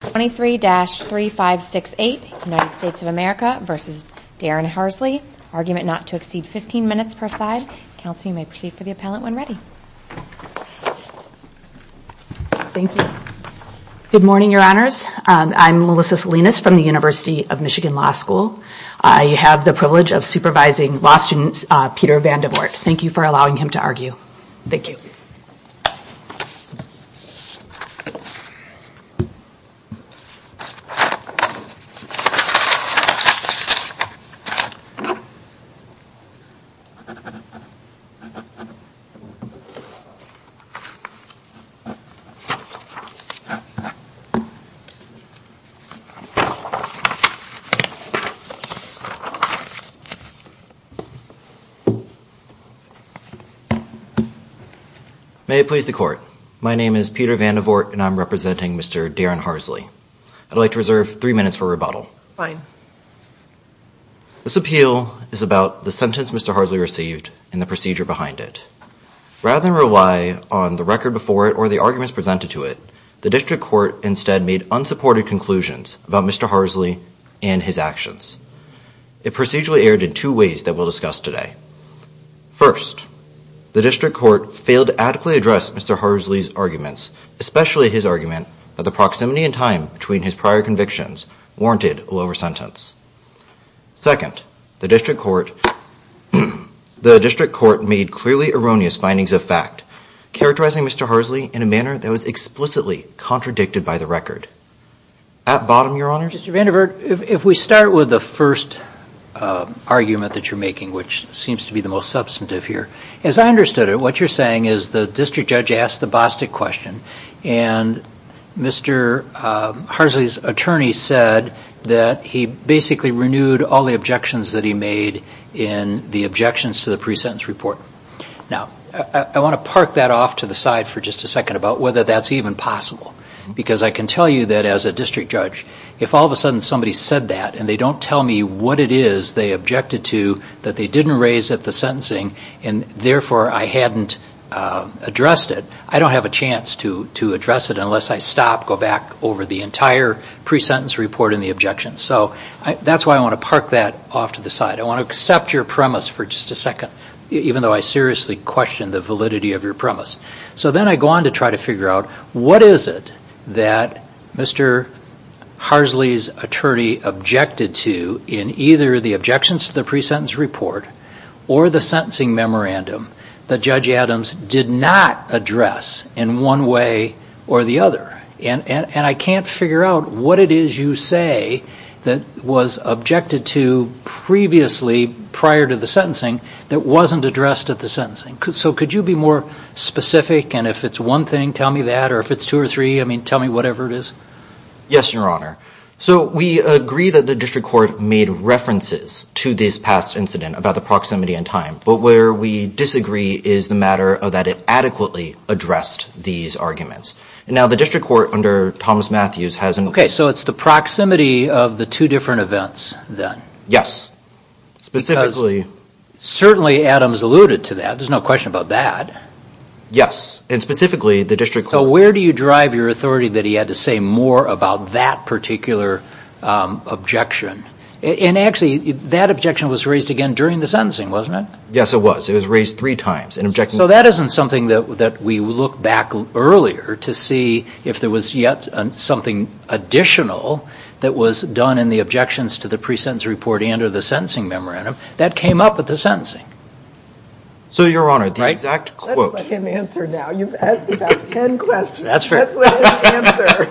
23-3568, United States of America v. Darrin Harsley, argument not to exceed 15 minutes per side. Counsel, you may proceed for the appellate when ready. Thank you. Good morning, your honors. I'm Melissa Salinas from the University of Michigan Law School. I have the privilege of supervising law student Peter Vandevoort. Thank you for allowing him to argue. Thank you. May it please the court. My name is Peter Vandevoort, and I'm representing Mr. Darrin Harsley. I'd like to reserve three minutes for rebuttal. This appeal is about the sentence Mr. Harsley received and the procedure behind it. Rather than rely on the record before it or the arguments presented to it, the district court instead made unsupported conclusions about Mr. Harsley and his actions. It procedurally erred in two ways that we'll discuss today. First, the district court failed to adequately address Mr. Harsley's arguments, especially his argument that the proximity in time between his prior convictions warranted a lower sentence. Second, the district court made clearly erroneous findings of fact, characterizing Mr. Harsley in a manner that was explicitly contradicted by the record. At bottom, your honors. Mr. Vandevoort, if we start with the first argument that you're making, which seems to be the most substantive here, as I understood it, what you're saying is the district judge asked the Bostic question, and Mr. Harsley's attorney said that he basically renewed all the objections that he made in the objections to the pre-sentence report. Now, I want to park that off to the side for just a second about whether that's even possible, because I can tell you that as a district judge, if all of a sudden somebody said that and they don't tell me what it is they objected to that they didn't raise at the sentencing and therefore I hadn't addressed it, I don't have a chance to address it unless I stop, go back over the entire pre-sentence report and the objections. That's why I want to park that off to the side. I want to accept your premise for just a second, even though I seriously question the validity of your premise. So then I go on to try to figure out what is it that Mr. Harsley's attorney objected to in either the objections to the pre-sentence report or the sentencing memorandum that Judge Adams did not address in one way or the other. And I can't figure out what it is you say that was objected to previously prior to the sentencing that wasn't addressed at the sentencing. So could you be more specific and if it's one thing tell me that or if it's two or three I mean tell me whatever it is? Yes your honor. So we agree that the district court made references to this past incident about the proximity and time. But where we disagree is the matter of that it adequately addressed these arguments. Now the district court under Thomas Matthews hasn't... Okay so it's the proximity of the two different events then? Yes. Specifically. Certainly Adams alluded to that, there's no question about that. Yes. And specifically the district court... So where do you drive your authority that he had to say more about that particular objection? And actually that objection was raised again during the sentencing wasn't it? Yes it was. It was raised three times. So that isn't something that we look back earlier to see if there was yet something additional that was done in the objections to the pre-sentence report and or the sentencing memorandum. That came up at the sentencing. So your honor the exact quote... Let's let him answer now, you've asked about ten questions. That's fair. Let's let him answer.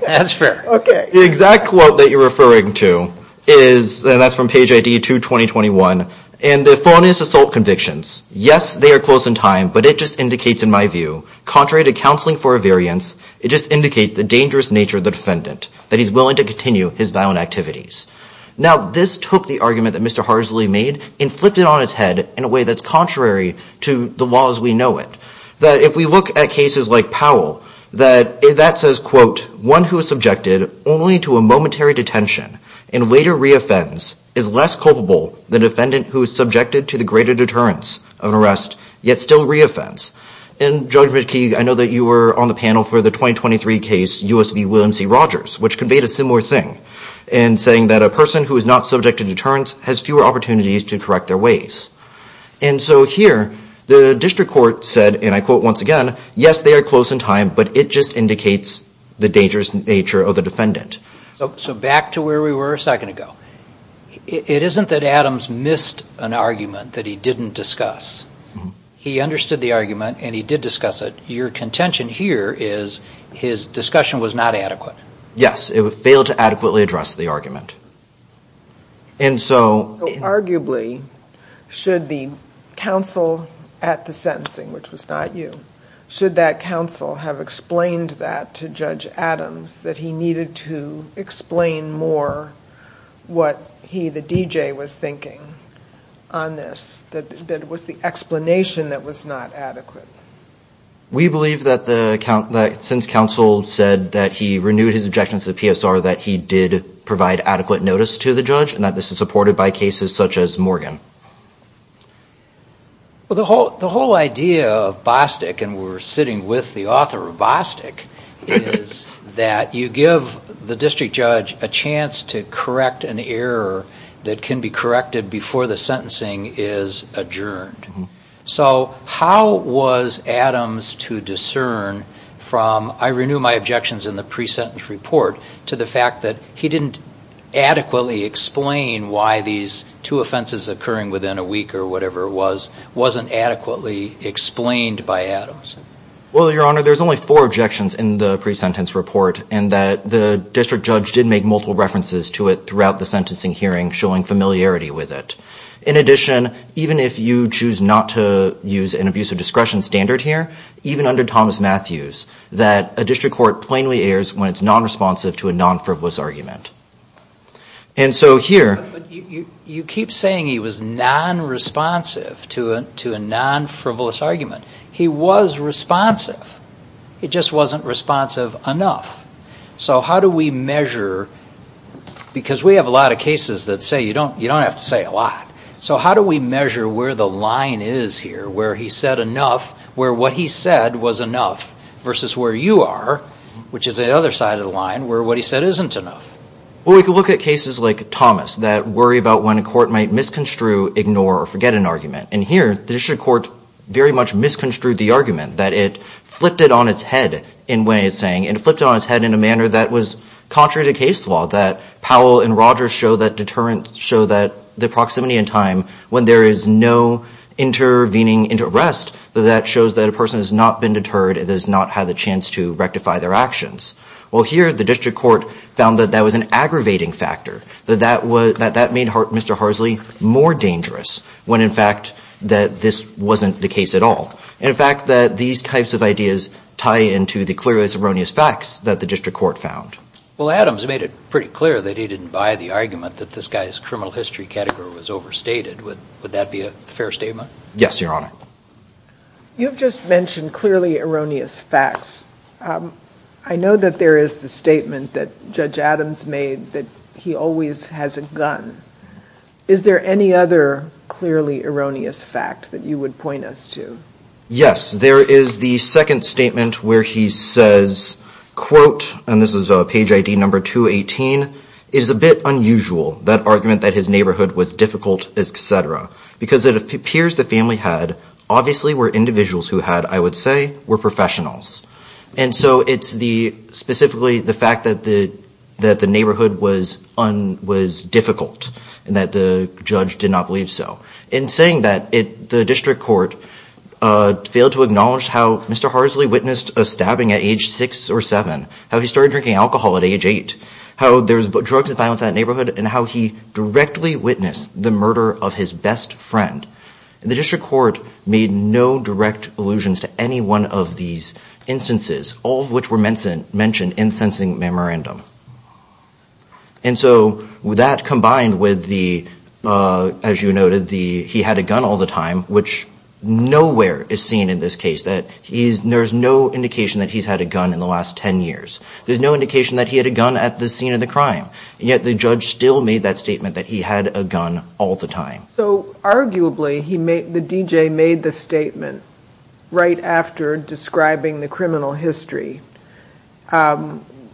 That's fair. Okay. The exact quote that you're referring to is, and that's from page ID 2-2021, and the phone is assault convictions. Yes they are close in time but it just indicates in my view, contrary to counseling for a variance, it just indicates the dangerous nature of the defendant, that he's willing to continue his violent activities. Now this took the argument that Mr. Harsley made and flipped it on its head in a way that's contrary to the laws we know it. That if we look at cases like Powell, that says quote, one who is subjected only to a momentary detention and later re-offends is less culpable than a defendant who is subjected to the greater deterrence of an arrest yet still re-offends. And Judge McKeague, I know that you were on the panel for the 2023 case U.S. v. William C. Rogers, which conveyed a similar thing in saying that a person who is not subject to deterrence has fewer opportunities to correct their ways. And so here, the district court said, and I quote once again, yes they are close in time but it just indicates the dangerous nature of the defendant. So back to where we were a second ago. It isn't that Adams missed an argument that he didn't discuss. He understood the argument and he did discuss it. Your contention here is his discussion was not adequate. Yes. It failed to adequately address the argument. And so... So arguably, should the counsel at the sentencing, which was not you, should that counsel have explained that to Judge Adams that he needed to explain more what he, the DJ, was thinking on this? That it was the explanation that was not adequate? We believe that since counsel said that he renewed his objections to the PSR that he did provide adequate notice to the judge and that this is supported by cases such as Morgan. The whole idea of Bostick, and we're sitting with the author of Bostick, is that you give the district judge a chance to correct an error that can be corrected before the sentencing is adjourned. So how was Adams to discern from, I renew my objections in the pre-sentence report, to the fact that he didn't adequately explain why these two offenses occurring within a week or whatever wasn't adequately explained by Adams? Well, Your Honor, there's only four objections in the pre-sentence report, and that the district judge did make multiple references to it throughout the sentencing hearing, showing familiarity with it. In addition, even if you choose not to use an abuse of discretion standard here, even under Thomas Matthews, that a district court plainly errs when it's non-responsive to a non-frivolous argument. And so here... You keep saying he was non-responsive to a non-frivolous argument. He was responsive. It just wasn't responsive enough. So how do we measure... Because we have a lot of cases that say you don't have to say a lot. So how do we measure where the line is here, where he said enough, where what he said was enough versus where you are, which is the other side of the line, where what he said isn't enough? Well, we could look at cases like Thomas that worry about when a court might misconstrue, ignore, or forget an argument. And here, the district court very much misconstrued the argument, that it flipped it on its head in what it's saying, and it flipped it on its head in a manner that was contrary to case law, that Powell and Rogers show that deterrence, show that the proximity in time when there is no intervening into arrest, that shows that a person has not been deterred and has not had the chance to rectify their actions. Well, here, the district court found that that was an aggravating factor, that that made Mr. Harsley more dangerous when, in fact, that this wasn't the case at all. And in fact, that these types of ideas tie into the clearly erroneous facts that the district court found. Well, Adams made it pretty clear that he didn't buy the argument that this guy's criminal history category was overstated. Would that be a fair statement? Yes, Your Honor. You've just mentioned clearly erroneous facts. I know that there is the statement that Judge Adams made that he always has a gun. Is there any other clearly erroneous fact that you would point us to? Yes. There is the second statement where he says, quote, and this is page ID number 218, is a bit unusual, that argument that his neighborhood was difficult, et cetera, because it appears the family had, obviously, were individuals who had, I would say, were professionals. And so it's specifically the fact that the neighborhood was difficult and that the judge did not believe so. In saying that, the district court failed to acknowledge how Mr. Harsley witnessed a stabbing at age six or seven, how he started drinking alcohol at age eight, how there's drugs and violence in that neighborhood, and how he directly witnessed the murder of his best friend. The district court made no direct allusions to any one of these instances, all of which were mentioned in the sentencing memorandum. And so that combined with the, as you noted, the he had a gun all the time, which nowhere is seen in this case. There's no indication that he's had a gun in the last 10 years. There's no indication that he had a gun at the scene of the crime, and yet the judge still made that statement that he had a gun all the time. So arguably, the DJ made the statement right after describing the criminal history,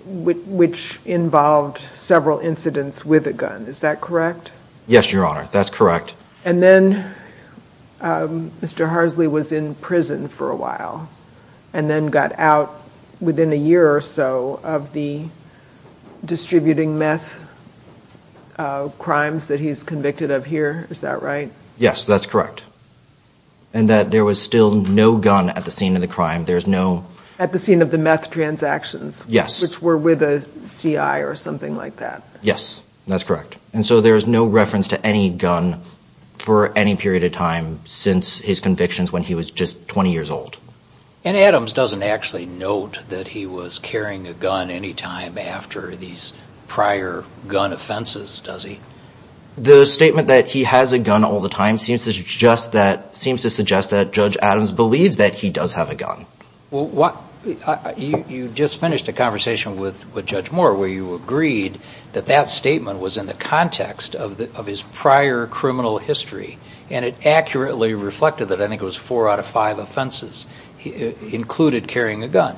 which involved several incidents with a gun. Is that correct? Yes, Your Honor. That's correct. And then Mr. Harsley was in prison for a while and then got out within a year or so of the distributing meth crimes that he's convicted of here. Is that right? Yes, that's correct. And that there was still no gun at the scene of the crime. There's no... At the scene of the meth transactions. Yes. Which were with a CI or something like that. Yes, that's correct. And so there is no reference to any gun for any period of time since his convictions when he was just 20 years old. And Adams doesn't actually note that he was carrying a gun any time after these prior gun offenses, does he? The statement that he has a gun all the time seems to suggest that Judge Adams believes that he does have a gun. You just finished a conversation with Judge Moore where you agreed that that statement was in the context of his prior criminal history, and it accurately reflected that I think it was four out of five offenses included carrying a gun.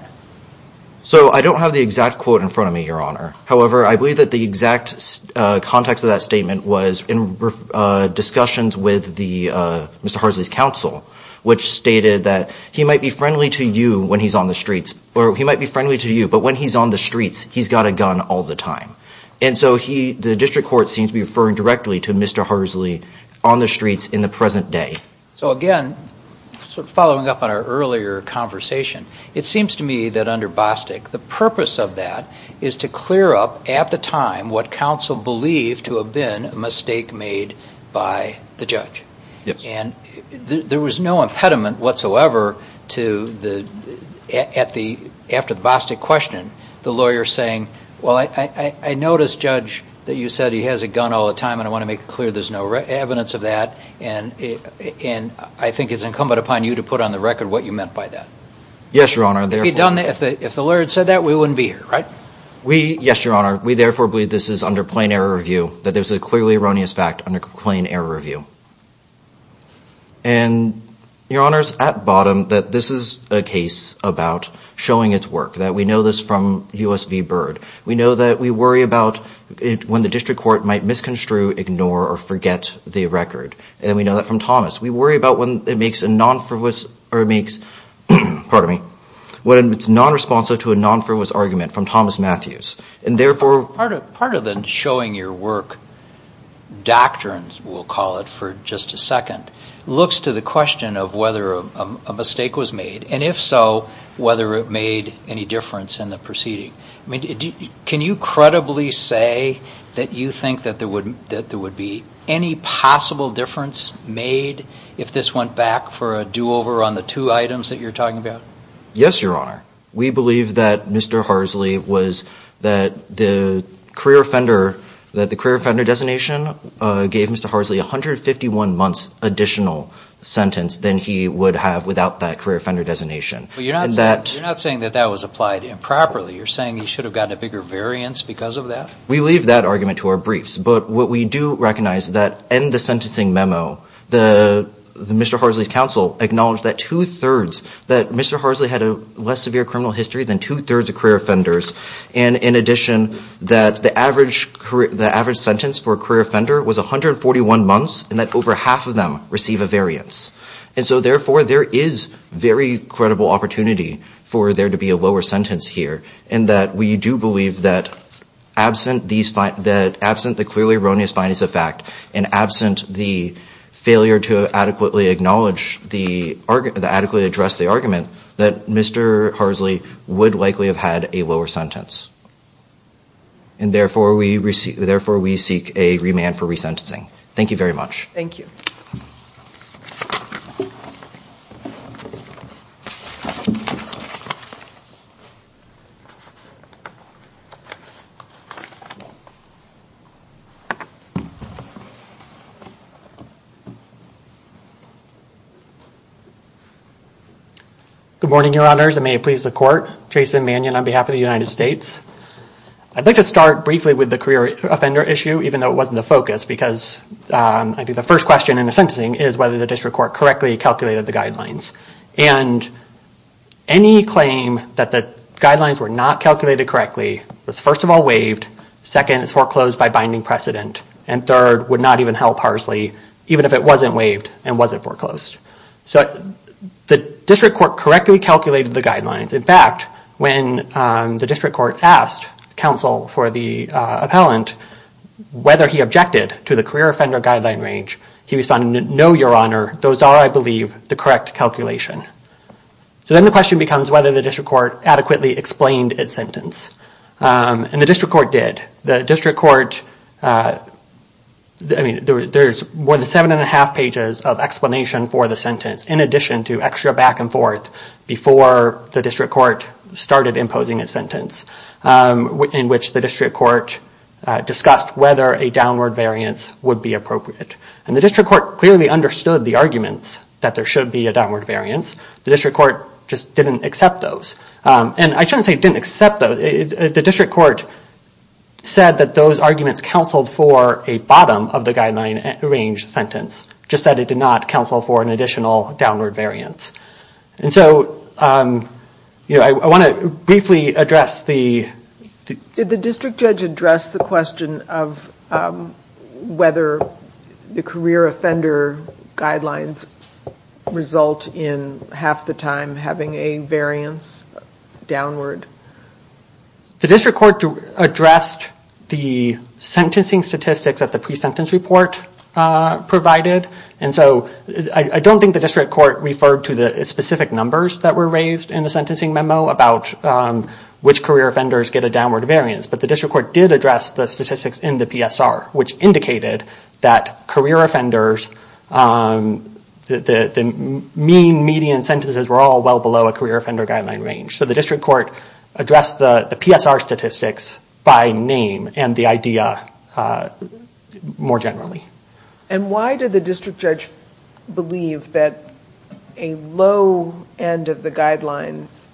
So I don't have the exact quote in front of me, Your Honor. However, I believe that the exact context of that statement was in discussions with Mr. Harsley's counsel, which stated that he might be friendly to you when he's on the streets or he might be friendly to you, but when he's on the streets, he's got a gun all the time. And so the district court seems to be referring directly to Mr. Harsley on the streets in the present day. So again, following up on our earlier conversation, it seems to me that under Bostick, the purpose of that is to clear up at the time what counsel believed to have been a mistake made by the Yes. And there was no impediment whatsoever after the Bostick question, the lawyer saying, well, I noticed, Judge, that you said he has a gun all the time and I want to make it clear there's no evidence of that. And I think it's incumbent upon you to put on the record what you meant by that. Yes, Your Honor. If the lawyer had said that, we wouldn't be here, right? Yes, Your Honor. We therefore believe this is under plain error review, that there's a clearly erroneous fact under plain error review. And Your Honor's at bottom that this is a case about showing its work, that we know this from U.S. v. Byrd. We know that we worry about when the district court might misconstrue, ignore, or forget the record. And we know that from Thomas. We worry about when it makes a non-fervous, or it makes, pardon me, when it's non-responsive to a non-fervous argument from Thomas Matthews. And therefore, Part of the showing your work doctrines, we'll call it for just a second, looks to the question of whether a mistake was made. And if so, whether it made any difference in the proceeding. I mean, can you credibly say that you think that there would be any possible difference made if this went back for a do-over on the two items that you're talking about? Yes, Your Honor. We believe that Mr. Harsley was, that the career offender, that the career offender designation gave Mr. Harsley 151 months additional sentence than he would have without that career offender designation. You're not saying that that was applied improperly. You're saying he should have gotten a bigger variance because of that? We leave that argument to our briefs. But what we do recognize that in the sentencing memo, the Mr. Harsley's counsel acknowledged that two-thirds, that Mr. Harsley had a less severe criminal history than two-thirds of career offenders. And in addition, that the average sentence for a career offender was 141 months and that over half of them receive a variance. And so therefore, there is very credible opportunity for there to be a lower sentence here and that we do believe that absent the clearly erroneous findings of fact and absent the failure to adequately acknowledge the, adequately address the argument, that Mr. Harsley would likely have had a lower sentence. And therefore, we seek a remand for resentencing. Thank you very much. Thank you. Good morning, your honors, and may it please the court, Jason Mannion on behalf of the United States. I'd like to start briefly with the career offender issue even though it wasn't the focus because I think the first question in the sentencing is whether the district court correctly calculated the guidelines and any claim that the guidelines were not calculated correctly was first of all waived, second, it's foreclosed by binding precedent, and third, would not even help Harsley even if it wasn't waived and wasn't foreclosed. So the district court correctly calculated the guidelines. In fact, when the district court asked counsel for the appellant whether he objected to the career offender guideline range, he responded, no, your honor, those are, I believe, the correct calculation. So then the question becomes whether the district court adequately explained its sentence, and the district court did. The district court, I mean, there's more than seven and a half pages of explanation for the sentence in addition to extra back and forth before the district court started imposing a sentence in which the district court discussed whether a downward variance would be appropriate. And the district court clearly understood the arguments that there should be a downward variance. The district court just didn't accept those. And I shouldn't say didn't accept those. The district court said that those arguments counseled for a bottom of the guideline range sentence, just that it did not counsel for an additional downward variance. And so I want to briefly address the... Did the district judge address the question of whether the career offender guidelines result in half the time having a variance downward? The district court addressed the sentencing statistics that the pre-sentence report provided. And so I don't think the district court referred to the specific numbers that were raised in the sentencing memo about which career offenders get a downward variance. But the district court did address the statistics in the PSR, which indicated that career offenders, the mean, median sentences were all well below a career offender guideline range. So the district court addressed the PSR statistics by name and the idea more generally. And why did the district judge believe that a low end of the guidelines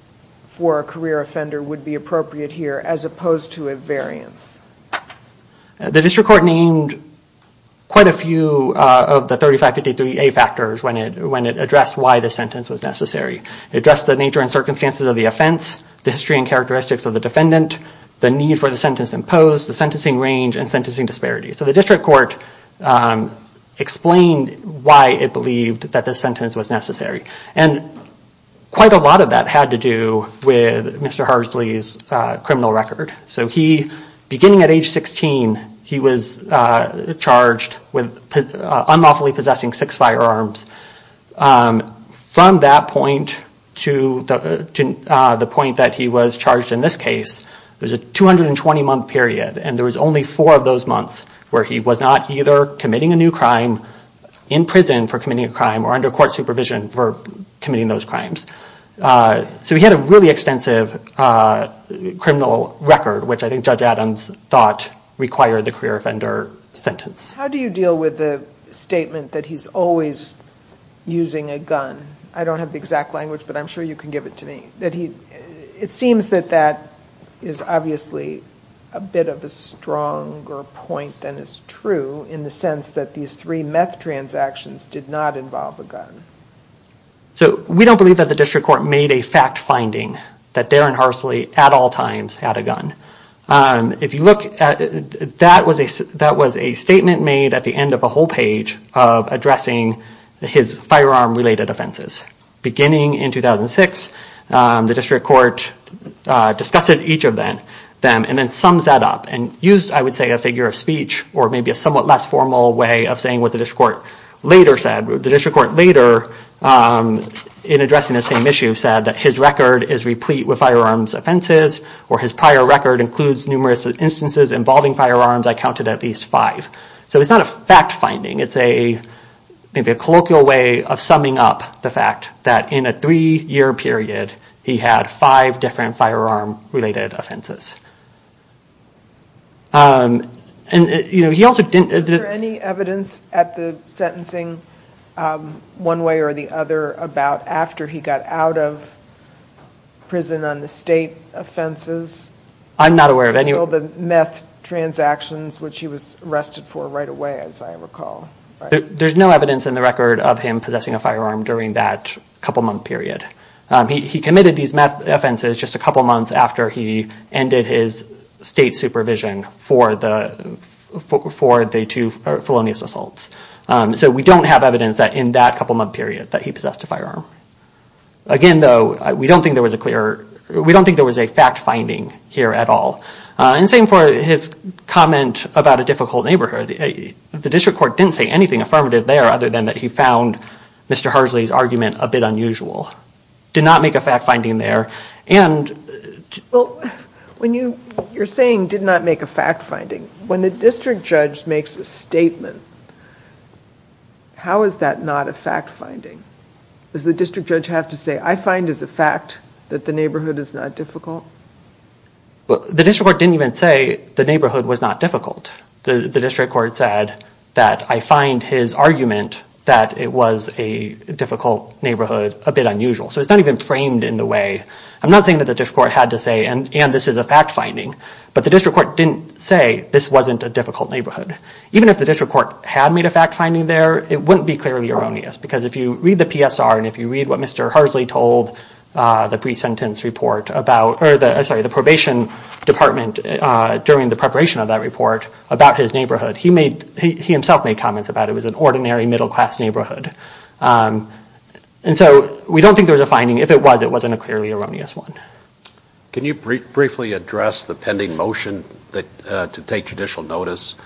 for a career offender would be appropriate here as opposed to a variance? The district court named quite a few of the 3553A factors when it addressed why the sentence was necessary. It addressed the nature and circumstances of the offense, the history and characteristics of the defendant, the need for the sentence imposed, the sentencing range, and sentencing disparities. So the district court explained why it believed that this sentence was necessary. And quite a lot of that had to do with Mr. Harsley's criminal record. So he, beginning at age 16, he was charged with unlawfully possessing six firearms. From that point to the point that he was charged in this case, there was a 220 month period. And there was only four of those months where he was not either committing a new crime in prison for committing a crime or under court supervision for committing those crimes. So he had a really extensive criminal record, which I think Judge Adams thought required the career offender sentence. How do you deal with the statement that he's always using a gun? I don't have the exact language, but I'm sure you can give it to me. It seems that that is obviously a bit of a stronger point than is true in the sense that these three meth transactions did not involve a gun. So we don't believe that the district court made a fact finding that Darren Harsley at all times had a gun. If you look, that was a statement made at the end of a whole page of addressing his firearm related offenses. Beginning in 2006, the district court discussed each of them and then sums that up and used, I would say, a figure of speech or maybe a somewhat less formal way of saying what the district court later said. The district court later, in addressing the same issue, said that his record is replete with firearms offenses or his prior record includes numerous instances involving firearms. I counted at least five. So it's not a fact finding, it's maybe a colloquial way of summing up the fact that in a three year period, he had five different firearm related offenses. And he also didn't- There's no evidence in the record of him possessing a firearm during that couple month period. He committed these meth offenses just a couple months after he ended his state supervision for the two felonious assaults. So we don't have evidence that in that couple month period that he possessed a firearm. Again though, we don't think there was a clear- We don't think there was a fact finding here at all. And same for his comment about a difficult neighborhood. The district court didn't say anything affirmative there other than that he found Mr. Hersley's argument a bit unusual. Did not make a fact finding there and- When you're saying did not make a fact finding, when the district judge makes a statement, how is that not a fact finding? Does the district judge have to say, I find as a fact that the neighborhood is not difficult? The district court didn't even say the neighborhood was not difficult. The district court said that I find his argument that it was a difficult neighborhood a bit unusual. So it's not even framed in the way- I'm not saying that the district court had to say this is a fact finding. But the district court didn't say this wasn't a difficult neighborhood. Even if the district court had made a fact finding there, it wouldn't be clearly erroneous. Because if you read the PSR and if you read what Mr. Hersley told the pre-sentence report about- I'm sorry, the probation department during the preparation of that report about his neighborhood, he made- he himself made comments about it was an ordinary middle class neighborhood. And so we don't think there was a finding. If it was, it wasn't a clearly erroneous one. Can you briefly address the pending motion to take judicial notice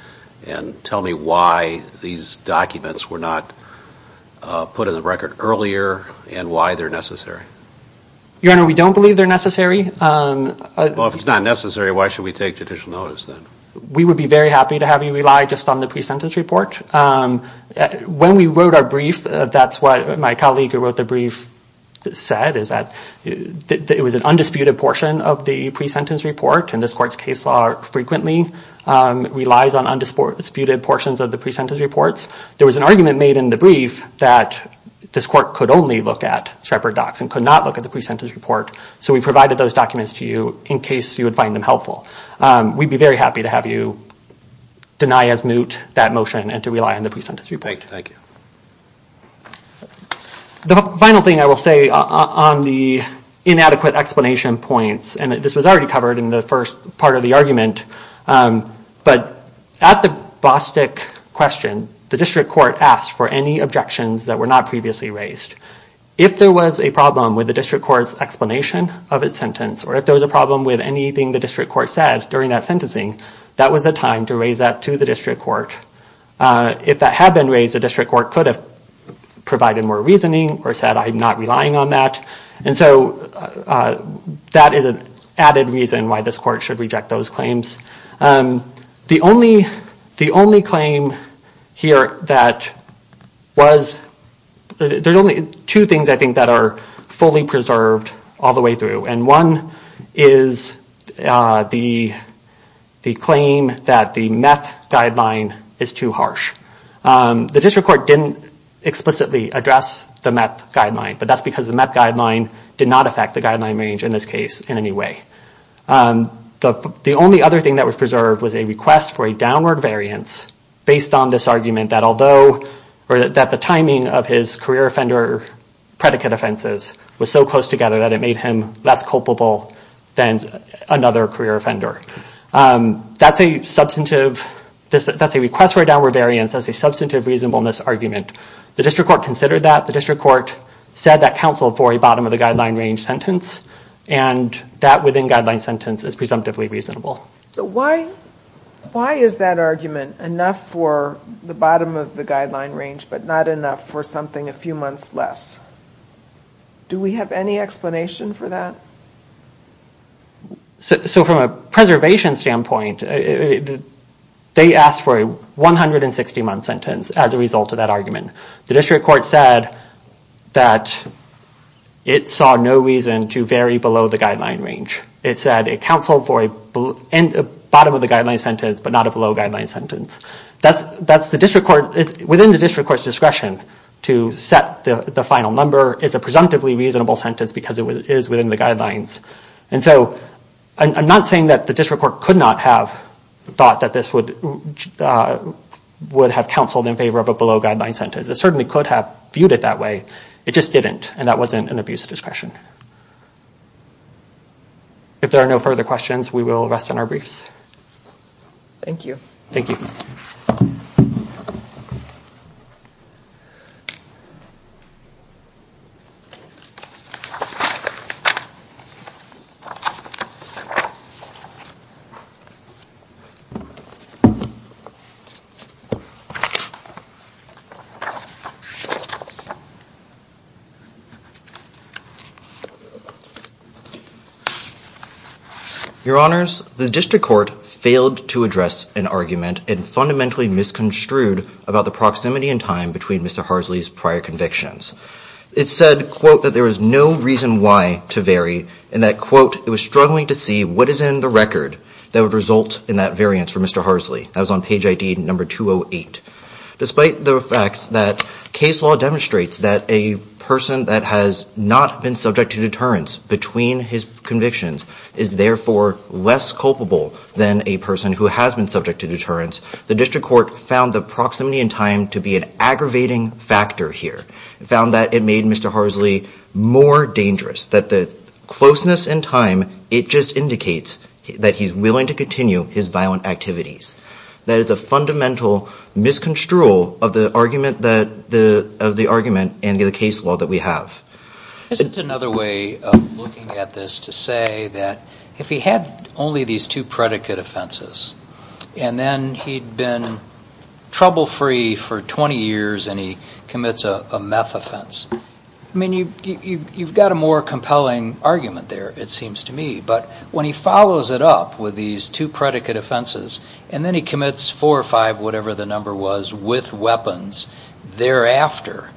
and tell me why these documents were not put in the record earlier and why they're necessary? Your Honor, we don't believe they're necessary. Well, if it's not necessary, why should we take judicial notice then? We would be very happy to have you rely just on the pre-sentence report. When we wrote our brief, that's what my colleague who wrote the brief said, is that it was an undisputed portion of the pre-sentence report and this court's case law frequently relies on undisputed portions of the pre-sentence reports. There was an argument made in the brief that this court could only look at Shepard Docks and could not look at the pre-sentence report. So we provided those documents to you in case you would find them helpful. We'd be very happy to have you deny as moot that motion and to rely on the pre-sentence report. Thank you. The final thing I will say on the inadequate explanation points, and this was already covered in the first part of the argument, but at the Bostick question, the district court asked for any objections that were not previously raised. If there was a problem with the district court's explanation of its sentence or if there was a problem with anything the district court said during that sentencing, that was the time to raise that to the district court. If that had been raised, the district court could have provided more reasoning or said I'm not relying on that. And so that is an added reason why this court should reject those claims. The only claim here that was, there's only two things I think that are fully preserved all the way through. And one is the claim that the meth guideline is too harsh. The district court didn't explicitly address the meth guideline, but that's because the meth guideline did not affect the guideline range in this case in any way. The only other thing that was preserved was a request for a downward variance based on this argument that although, or that the timing of his career offender predicate offenses was so close together that it made him less culpable than another career offender. That's a substantive, that's a request for a downward variance, that's a substantive reasonableness argument. The district court considered that, the district court said that counseled for a bottom of the guideline range sentence, and that within guideline sentence is presumptively reasonable. So why is that argument enough for the bottom of the guideline range but not enough for something a few months less? Do we have any explanation for that? So from a preservation standpoint, they asked for a 160 month sentence as a result of that The district court said that it saw no reason to vary below the guideline range. It said it counseled for a bottom of the guideline sentence but not a below guideline sentence. That's the district court, within the district court's discretion to set the final number is a presumptively reasonable sentence because it is within the guidelines. And so I'm not saying that the district court could not have thought that this would have counseled in favor of a below guideline sentence. It certainly could have viewed it that way. It just didn't, and that wasn't an abuse of discretion. If there are no further questions, we will rest on our briefs. Thank you. Thank you. Your Honors. The district court failed to address an argument and fundamentally misconstrued about the proximity and time between Mr. Harsley's prior convictions. It said, quote, that there was no reason why to vary and that, quote, it was struggling to see what is in the record that would result in that variance for Mr. Harsley. That was on page ID number 208. Despite the fact that case law demonstrates that a person that has not been subject to deterrence between his convictions is therefore less culpable than a person who has been subject to deterrence, the district court found the proximity and time to be an aggravating factor here. It found that it made Mr. Harsley more dangerous, that the closeness and time, it just indicates that he's willing to continue his violent activities. That is a fundamental misconstrual of the argument and the case law that we have. Isn't another way of looking at this to say that if he had only these two predicate offenses and then he'd been trouble-free for 20 years and he commits a meth offense, I mean, you've got a more compelling argument there, it seems to me. But when he follows it up with these two predicate offenses and then he commits four or five, whatever the number was, with weapons thereafter,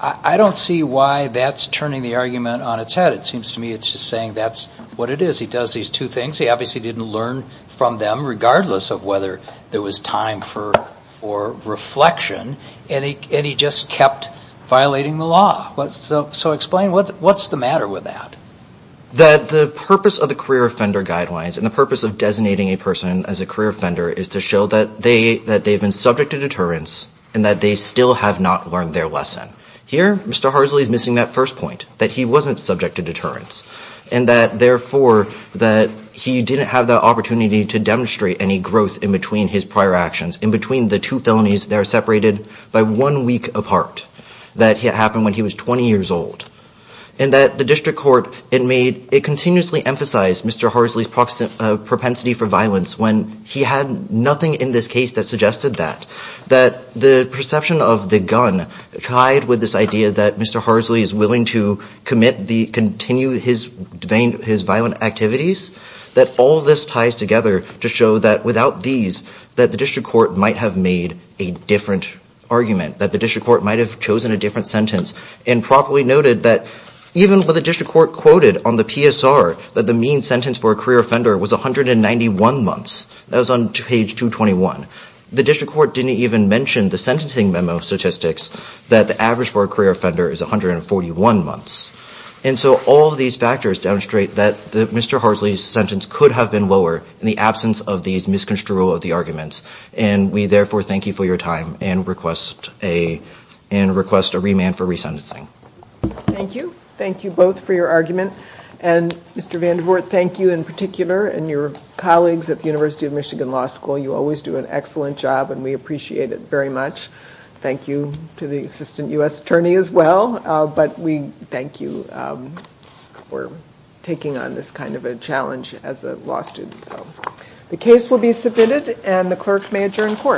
I don't see why that's turning the argument on its head. It seems to me it's just saying that's what it is. He does these two things. He obviously didn't learn from them regardless of whether there was time for reflection and he just kept violating the law. So explain, what's the matter with that? That the purpose of the career offender guidelines and the purpose of designating a person as a career offender is to show that they've been subject to deterrence and that they still have not learned their lesson. Here, Mr. Harsley is missing that first point, that he wasn't subject to deterrence and that therefore that he didn't have the opportunity to demonstrate any growth in between his prior actions, in between the two felonies that are separated by one week apart that happened when he was 20 years old. And that the district court, it continuously emphasized Mr. Harsley's propensity for violence when he had nothing in this case that suggested that. That the perception of the gun tied with this idea that Mr. Harsley is willing to commit the, continue his violent activities, that all this ties together to show that without these that the district court might have made a different argument. That the district court might have chosen a different sentence and properly noted that even with the district court quoted on the PSR that the mean sentence for a career offender was 191 months, that was on page 221. The district court didn't even mention the sentencing memo statistics that the average for a career offender is 141 months. And so all of these factors demonstrate that Mr. Harsley's sentence could have been lower in the absence of these misconstruals of the arguments. And we therefore thank you for your time and request a, and request a remand for resentencing. Thank you. Thank you both for your argument. And Mr. Vandenvoort, thank you in particular and your colleagues at the University of Michigan Law School. You always do an excellent job and we appreciate it very much. Thank you to the Assistant U.S. Attorney as well. But we thank you for taking on this kind of a challenge as a law student. The case will be submitted and the clerk may adjourn court.